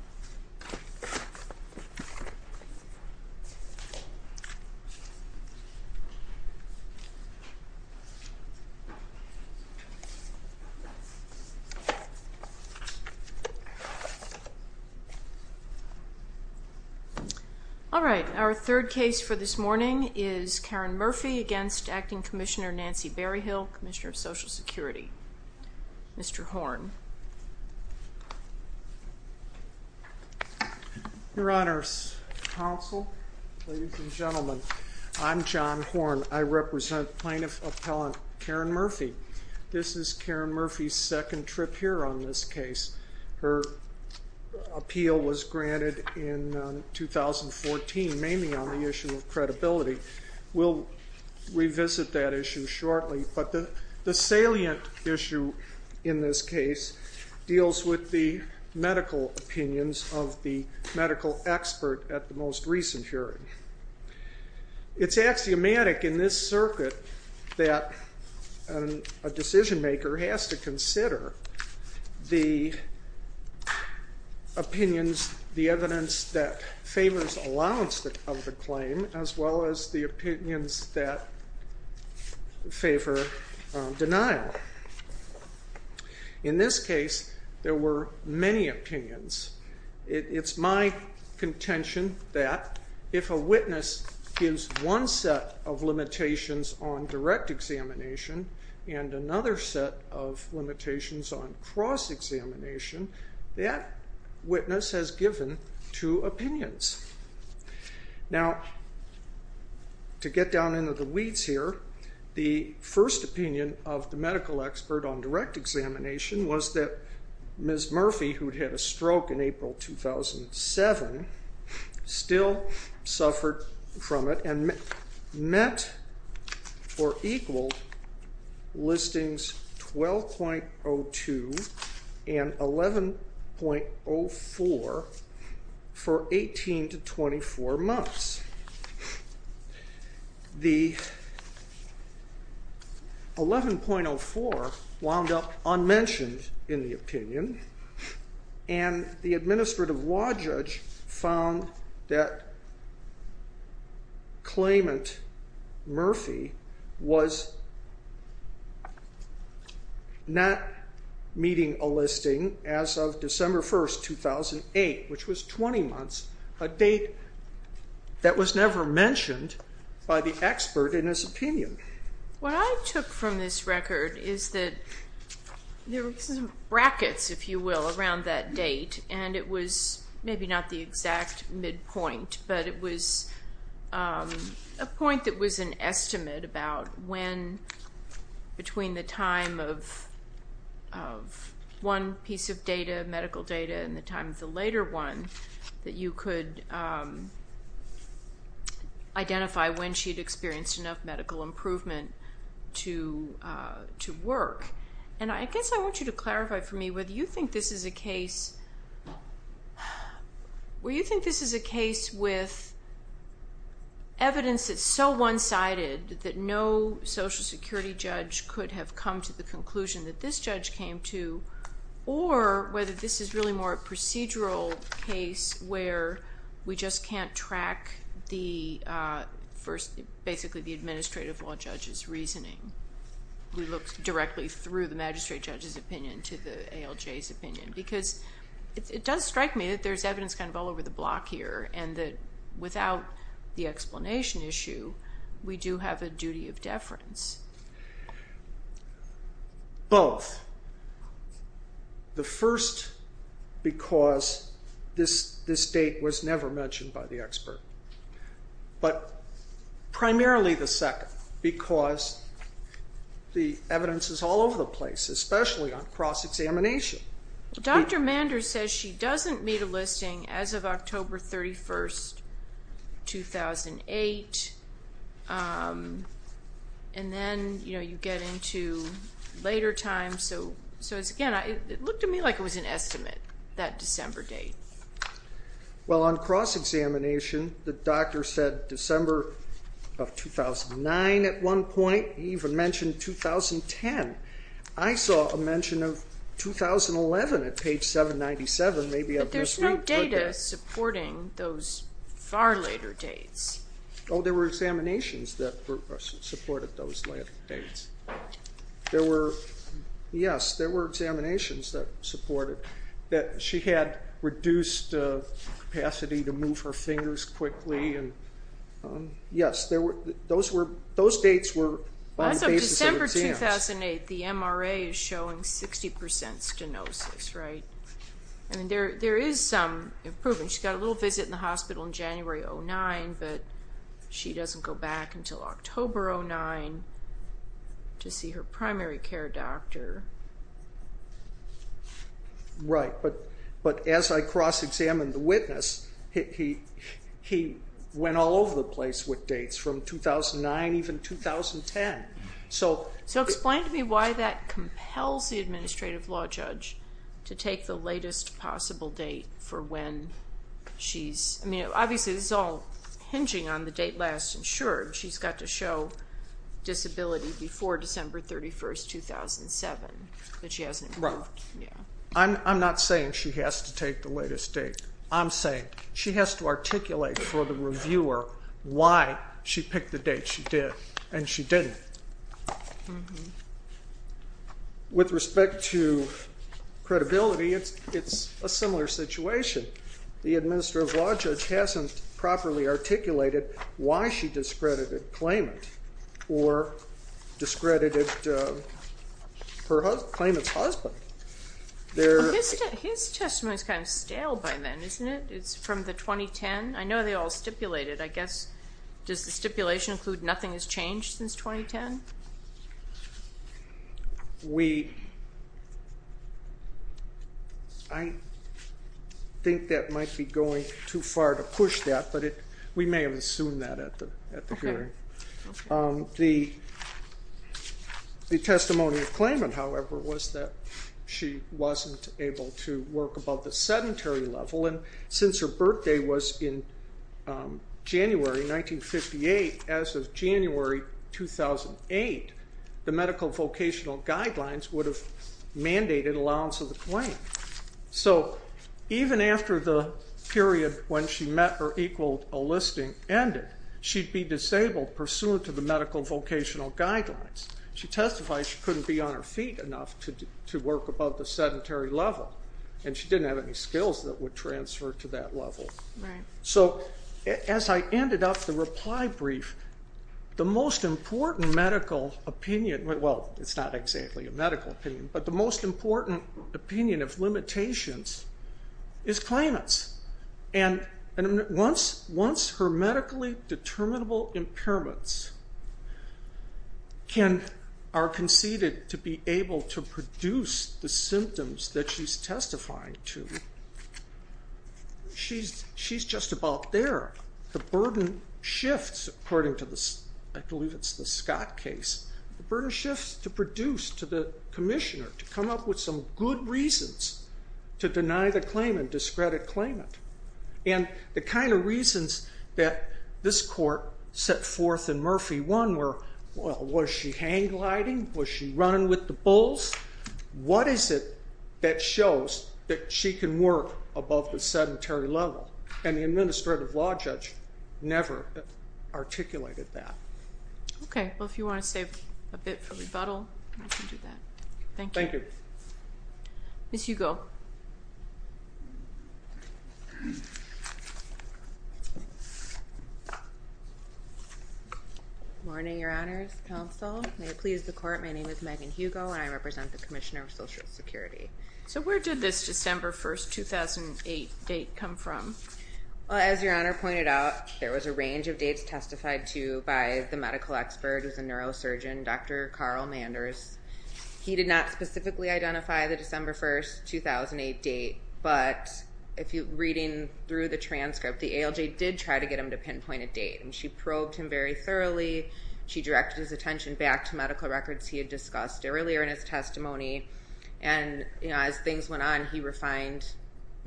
3. Karen Murphy v. Acting Commissioner Nancy Berryhill, Commissioner of Social Security Mr. Horne. Your Honor's counsel, ladies and gentlemen, I'm John Horne. I represent plaintiff appellant Karen Murphy. This is Karen Murphy's second trip here on this case. Her appeal was granted in 2014 mainly on the issue of credibility. We'll revisit that issue shortly, but the salient issue in this case deals with the medical opinions of the medical expert at the most recent hearing. It's axiomatic in this circuit that a decision maker has to consider the opinions, the evidence that favors allowance of the claim as well as the opinions that favor denial. In this case there were many opinions. It's my contention that if a witness gives one set of limitations on direct examination and another set of limitations on cross-examination, that witness has given two opinions. Now, to get down into the weeds here, the first opinion of the medical expert on direct examination was that Ms. Murphy, who had had a stroke in April 2007, still served 11.04 for 18 to 24 months. The 11.04 wound up unmentioned in the opinion, and the of December 1st, 2008, which was 20 months, a date that was never mentioned by the expert in his opinion. What I took from this record is that there were some brackets, if you will, around that date, and it was maybe not the exact midpoint, but it was a point that was an estimate between the time of one piece of medical data and the time of the later one that you could identify when she'd experienced enough medical improvement to work. I guess I want you to clarify for me whether you think this is a case with evidence that's so one sided that no Social Security judge could have come to the conclusion that this judge came to, or whether this is really more a procedural case where we just can't track the first, basically the administrative law judge's reasoning. We looked directly through the magistrate judge's opinion to the ALJ's opinion, because it does strike me that there's explanation issue, we do have a duty of deference. Both. The first, because this date was never mentioned by the expert. But primarily the second, because the evidence is all over the place, especially on cross-examination. Dr. Manders says she doesn't meet a listing as of October 31st, 2008, and then you get into later times. So again, it looked to me like it was an estimate, that December date. Well on cross-examination, the doctor said December of 2009 at one point, he even mentioned 2010. I saw a mention of 2011 at page 797. But there's no data supporting those far later dates. Oh, there were examinations that supported those later dates. Yes, there were examinations that supported, that she had reduced capacity to move her fingers quickly. Yes, those dates were on the basis of exams. As of December She got a little visit in the hospital in January 2009, but she doesn't go back until October 2009 to see her primary care doctor. Right, but as I cross-examined the witness, he went all over the place with dates from 2009, even 2010. So explain to me why that compels the for when she's, I mean obviously this is all hinging on the date last insured. She's got to show disability before December 31st, 2007, but she hasn't moved. I'm not saying she has to take the latest date. I'm saying she has to articulate for the reviewer why she picked the date she did and she didn't. With respect to credibility, it's a similar situation. The administrative law judge hasn't properly articulated why she discredited Klayment or discredited Klayment's husband. His testimony is kind of stale by then, isn't it? It's from the 2010. I know they all stipulated. I guess, does the stipulation include nothing has changed since 2010? I think that might be going too far to push that, but we may have assumed that at the hearing. The testimony of Klayment, however, was that she wasn't able to work above the sedentary level and since her birthday was in January 1958, as of January 2008, the medical vocational guidelines would have mandated allowance of the claim. So even after the period when she met or equaled a listing ended, she'd be disabled pursuant to the medical vocational guidelines. She testified she couldn't be on her feet enough to work above the sedentary level and she didn't have any skills that would transfer to that level. So as I ended up the reply brief, the most important medical opinion, well it's not exactly a medical opinion, but the most important opinion of limitations is Klayment's. Once her medically determinable impairments are conceded to be able to produce the symptoms that she's testifying to, she's just about there. The burden shifts, according to the Scott case, the burden shifts to produce, to the commissioner, to come up with some good reasons to deny the claim and discredit Klayment. And the kind of reasons that this court set forth in Murphy 1 were, well was she hang gliding? Was she running with the bulls? What is it that shows that she can work above the sedentary level? And the administrative law judge never articulated that. Okay, well if you want to save a bit for rebuttal, I can do that. Thank you. Ms. Hugo. Good morning, your honors, counsel. May it please the court, my name is Megan Hugo and I represent the Commissioner of Social Security. So where did this December 1, 2008 date come from? Well, as your honor pointed out, there was a range of dates testified to by the medical expert who's a neurosurgeon, Dr. Carl Manders. He did not specifically identify the December 1, 2008 date, but reading through the transcript, the ALJ did try to get him to pinpoint a date. And she probed him very thoroughly, she directed his attention back to medical records he had discussed earlier in his testimony. And as things went on, he refined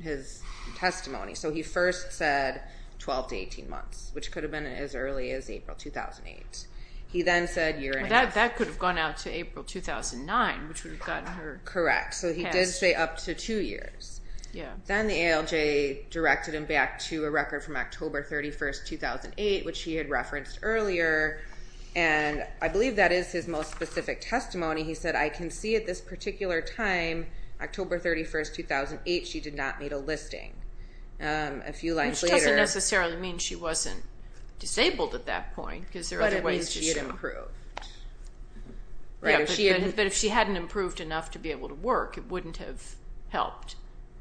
his testimony. So he first said 12 to 18 months, which could have been as early as April 2008. He then said a year and a half. That could have gone out to April 2009, which would have gotten her passed. Correct. So he did stay up to two years. Then the ALJ directed him back to a record from October 31, 2008, which he had referenced earlier. And I believe that is his most specific testimony. He said, I can see at this particular time, October 31, 2008, she did not make a list. Which doesn't necessarily mean she wasn't disabled at that point. But it means she had improved. But if she hadn't improved enough to be able to work, it wouldn't have helped.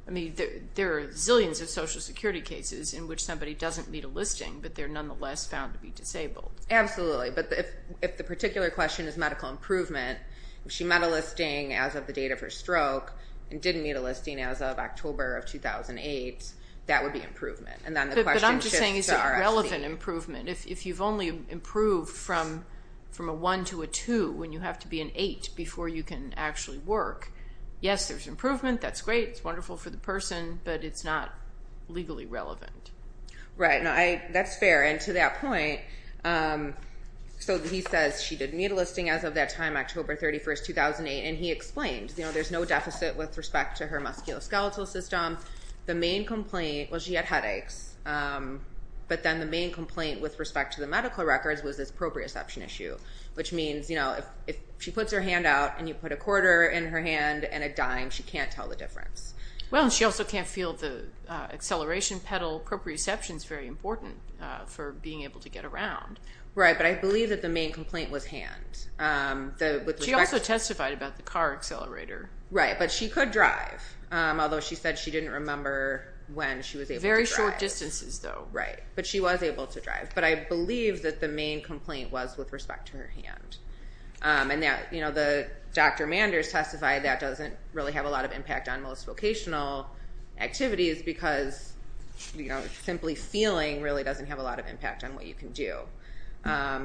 I mean, there are zillions of Social Security cases in which somebody doesn't meet a listing, but they're nonetheless found to be disabled. Absolutely. But if the particular question is medical improvement, if she met a listing as of the date of her stroke and didn't meet a listing as of October of 2008, that would be improvement. But I'm just saying is it relevant improvement? If you've only improved from a one to a two when you have to be an eight before you can actually work, yes, there's improvement. That's great. It's wonderful for the person, but it's not legally relevant. Right. That's fair. And to that point, so he says she didn't meet a listing as of that time, October 31st, 2008, and he explained there's no deficit with respect to her musculoskeletal system. The main complaint was she had headaches. But then the main complaint with respect to the medical records was this proprioception issue, which means if she puts her hand out and you put a quarter in her hand and a dime, she can't tell the difference. Well, and she also can't feel the acceleration pedal. Proprioception is very important for being able to get around. Right. But I believe that the main complaint was hand. She also testified about the car accelerator. Right. But she could drive, although she said she didn't remember when she was able to drive. Very short distances, though. Right. But she was able to drive. But I believe that the main complaint was with respect to her hand. And the Dr. Manders testified that doesn't really have a lot of impact on most vocational activities because simply feeling really doesn't have a lot of impact on what you can do.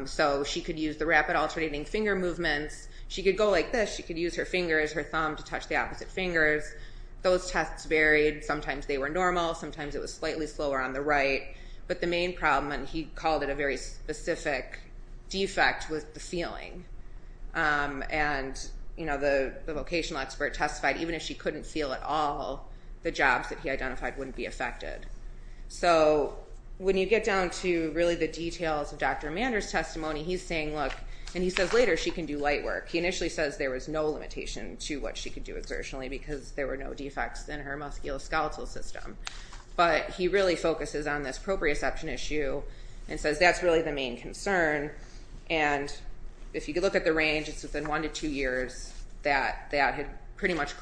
So she could use the rapid alternating finger movements. She could go like this. She could use her fingers, her thumb, to touch the opposite fingers. Those tests varied. Sometimes they were normal. Sometimes it was slightly slower on the right. But the main problem, and he called it a very specific defect, was the feeling. And the vocational expert testified even if she couldn't feel at all, the jobs that he identified wouldn't be affected. So when you get down to really the details of Dr. Manders' testimony, he's saying, look, and he says later she can do light work. He initially says there was no limitation to what she could do exertionally because there were no defects in her musculoskeletal system. But he really focuses on this proprioception issue and says that's really the main concern. And if you look at the range, it's within one to two years that that had pretty much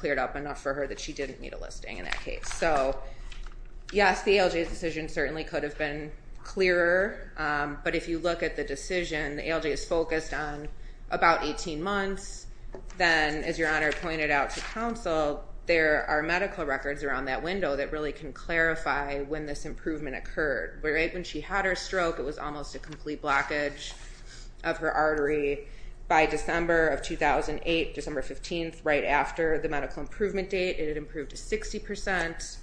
Yes, the ALJ's decision certainly could have been clearer. But if you look at the decision, the ALJ is focused on about 18 months. Then, as Your Honor pointed out to counsel, there are medical records around that window that really can clarify when this improvement occurred. When she had her stroke, it was almost a complete blockage of her artery. By December of 2008, December 15th, right after the medical improvement date, it had improved to 60%.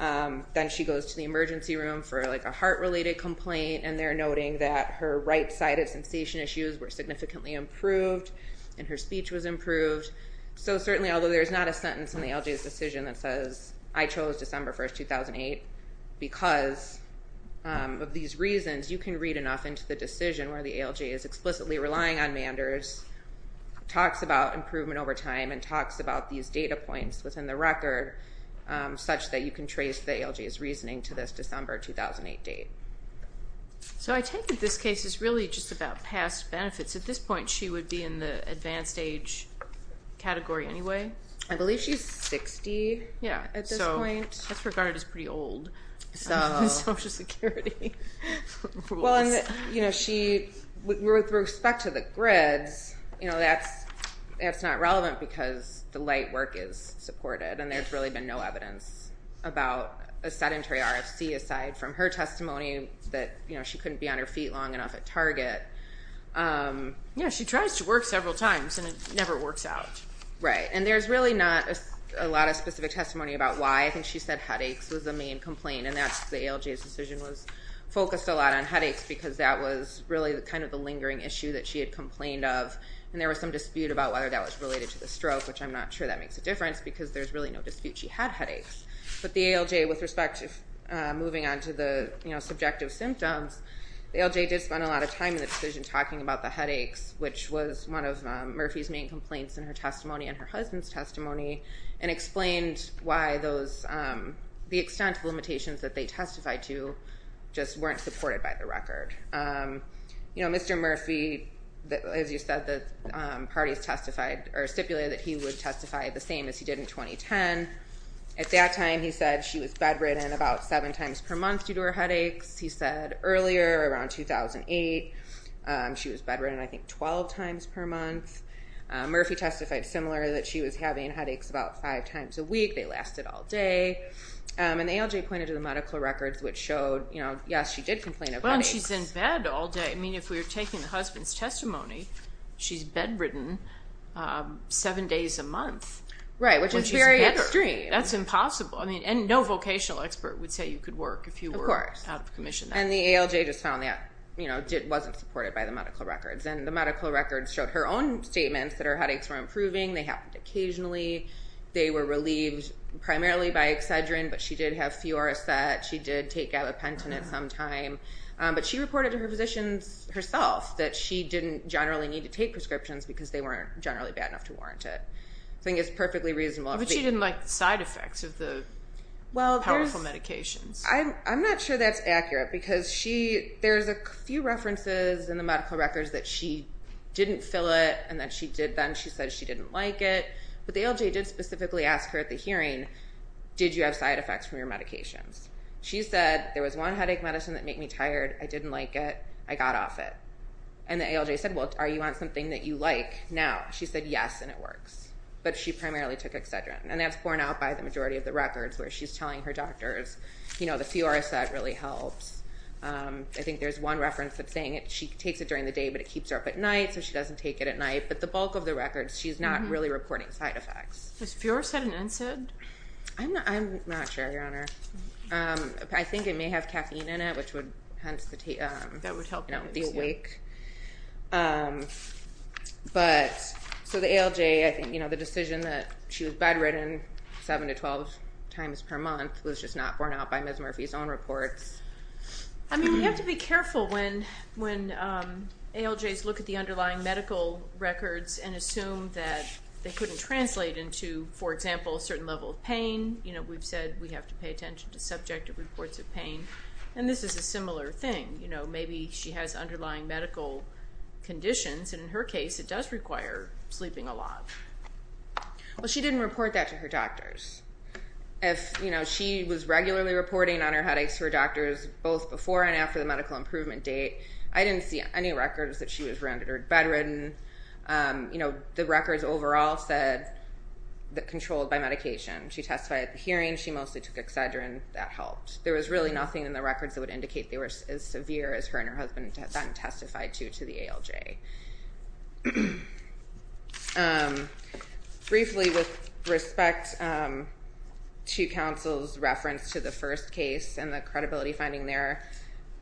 Then she goes to the emergency room for a heart-related complaint and they're noting that her right-sided sensation issues were significantly improved and her speech was improved. So certainly, although there's not a sentence in the ALJ's decision that says I chose December 1st, 2008 because of these reasons, you can read enough into the decision where the ALJ is explicitly relying on Manders, talks about improvement over time, and talks about these data points within the record such that you can trace the ALJ's reasoning to this December 2008 date. So I take it this case is really just about past benefits. At this point, she would be in the advanced age category anyway? I believe she's 60 at this point. That's regarded as pretty old. With respect to the grids, that's not relevant because the light work is supported and there's really been no evidence about a sedentary RFC aside from her testimony that she couldn't be on her feet long enough at Target. She tries to work several times and it never works out. Right. And there's really not a lot of specific testimony about why. I think she said headaches was the main complaint and that's the ALJ's decision was focused a lot on headaches because that was really kind of the lingering issue that she had complained of and there was some dispute about whether that was related to the stroke, which I'm not sure that makes a difference because there's really no dispute she had headaches. But the ALJ, with respect to moving on to the subjective symptoms, the ALJ did spend a lot of time in the decision talking about the headaches, which was one of Murphy's main complaints in her testimony and her husband's testimony, and explained why the extent of limitations that they testified to just weren't supported by the record. Mr. Murphy, as you said, the parties stipulated that he would testify the same as he did in 2010. At that time, he said she was bedridden about seven times per month due to her headaches. He said earlier, around 2008, she was bedridden I think 12 times per month. Murphy testified similar that she was having headaches about five times a week. They lasted all day. And the ALJ pointed to the medical records, which showed, you know, yes, she did complain of headaches. Well, and she's in bed all day. I mean, if we were taking the husband's testimony, she's bedridden seven days a month. Right, which is very extreme. Right, that's impossible. I mean, and no vocational expert would say you could work if you were out of commission. And the ALJ just found that, you know, it wasn't supported by the medical records. And the medical records showed her own statements that her headaches were improving. They happened occasionally. They were relieved primarily by Excedrin, but she did have Fioraset. She did take gabapentin at some time. But she reported to her physicians herself that she didn't generally need to take prescriptions because they weren't generally bad enough to warrant it. I think it's perfectly reasonable. But she didn't like the side effects of the powerful medications. Well, I'm not sure that's accurate because she, there's a few references in the medical records that she didn't fill it and that she did then. She said she didn't like it. But the ALJ did specifically ask her at the hearing, did you have side effects from your medications? She said, there was one headache medicine that made me tired. I didn't like it. I got off it. And the ALJ said, well, are you on something that you like now? She said, yes, and it works. But she primarily took Excedrin. And that's borne out by the majority of the records where she's telling her doctors, the Fioraset really helps. I think there's one reference that's saying that she takes it during the day, but it keeps her up at night so she doesn't take it at night. But the bulk of the records, she's not really reporting side effects. Was Fioraset an NSAID? I'm not sure, Your Honor. I think it may have caffeine in it, which would hence the wake. So the ALJ, I think the decision that she was bedridden 7 to 12 times per month was just not borne out by Ms. Murphy's own reports. I mean, we have to be careful when ALJs look at the underlying medical records and assume that they couldn't translate into, for example, a certain level of pain. We've said we have to pay attention to subjective reports of pain. And this is a similar thing. Maybe she has underlying medical conditions, and in her case, it does require sleeping a lot. Well, she didn't report that to her doctors. If she was regularly reporting on her headaches to her doctors, both before and after the medical improvement date, I didn't see any records that she was rendered bedridden. The records overall said that controlled by medication. She testified at the hearing. She mostly took Excedrin. That helped. There was really nothing in the records that would indicate they were as severe as her and her husband had then testified to to the ALJ. Briefly, with respect to counsel's reference to the first case and the credibility finding there,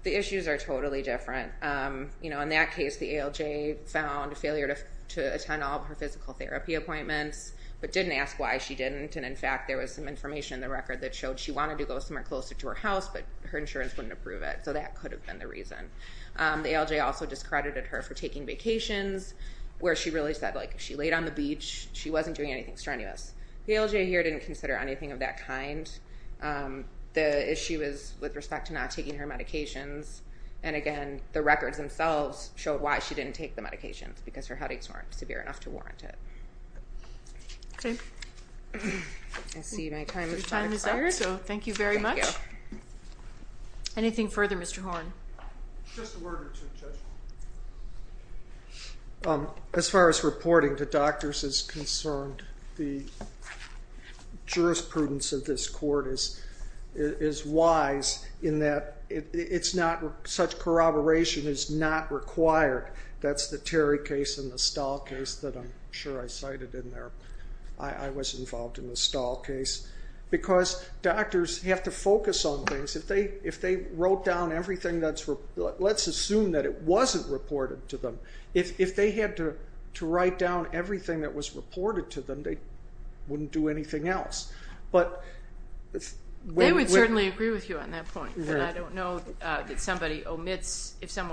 the issues are totally different. In that case, the ALJ found failure to attend all of her physical therapy appointments, but didn't ask why she didn't. And in fact, there was some information in the record that showed she wanted to go somewhere closer to her house, but her insurance wouldn't approve it. So that could have been the reason. The ALJ also discredited her for taking vacations, where she really said she laid on the beach, she wasn't doing anything strenuous. The ALJ here didn't consider anything of that kind. The issue is with respect to not taking her medications. And again, the records themselves showed why she didn't take the medications, because her headaches weren't severe enough to warrant it. Okay. I see my time is up. Your time is up, so thank you very much. Thank you. Anything further, Mr. Horn? Just a word or two, Judge. As far as reporting to doctors is concerned, the jurisprudence of this court is wise in that such corroboration is not required. That's the Terry case and the Stahl case that I'm sure I cited in there. I was involved in the Stahl case. Because doctors have to focus on things. If they wrote down everything that's, let's assume that it wasn't reported to them, if they had to write down everything that was reported to them, they wouldn't do anything else. They would certainly agree with you on that point. I don't know that somebody omits, if that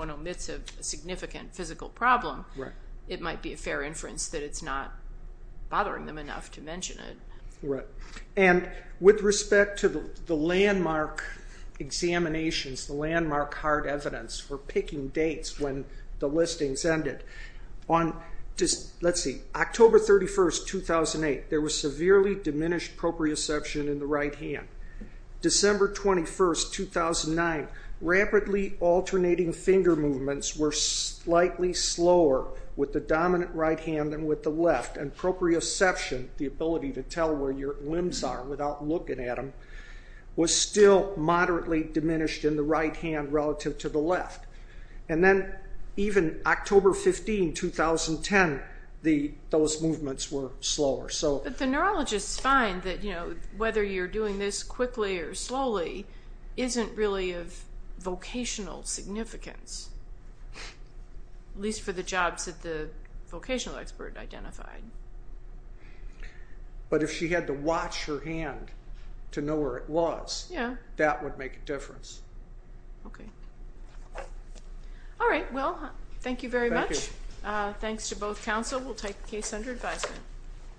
might be a fair inference, that it's not bothering them enough to mention it. Right. And with respect to the landmark examinations, the landmark hard evidence for picking dates when the listings ended, on, let's see, October 31, 2008, there was severely diminished proprioception in the right hand. December 21, 2009, rapidly alternating finger movements were slightly slower with the dominant right hand than with the left. And proprioception, the ability to tell where your limbs are without looking at them, was still moderately diminished in the right hand relative to the left. And then even October 15, 2010, those movements were slower. But the neurologists find that whether you're doing this quickly or slowly isn't really of vocational significance, at least for the jobs that the vocational expert identified. But if she had to watch her hand to know where it was, that would make a difference. Okay. Alright, well, thank you very much. Thanks to both counsel. We'll take the case under advisement.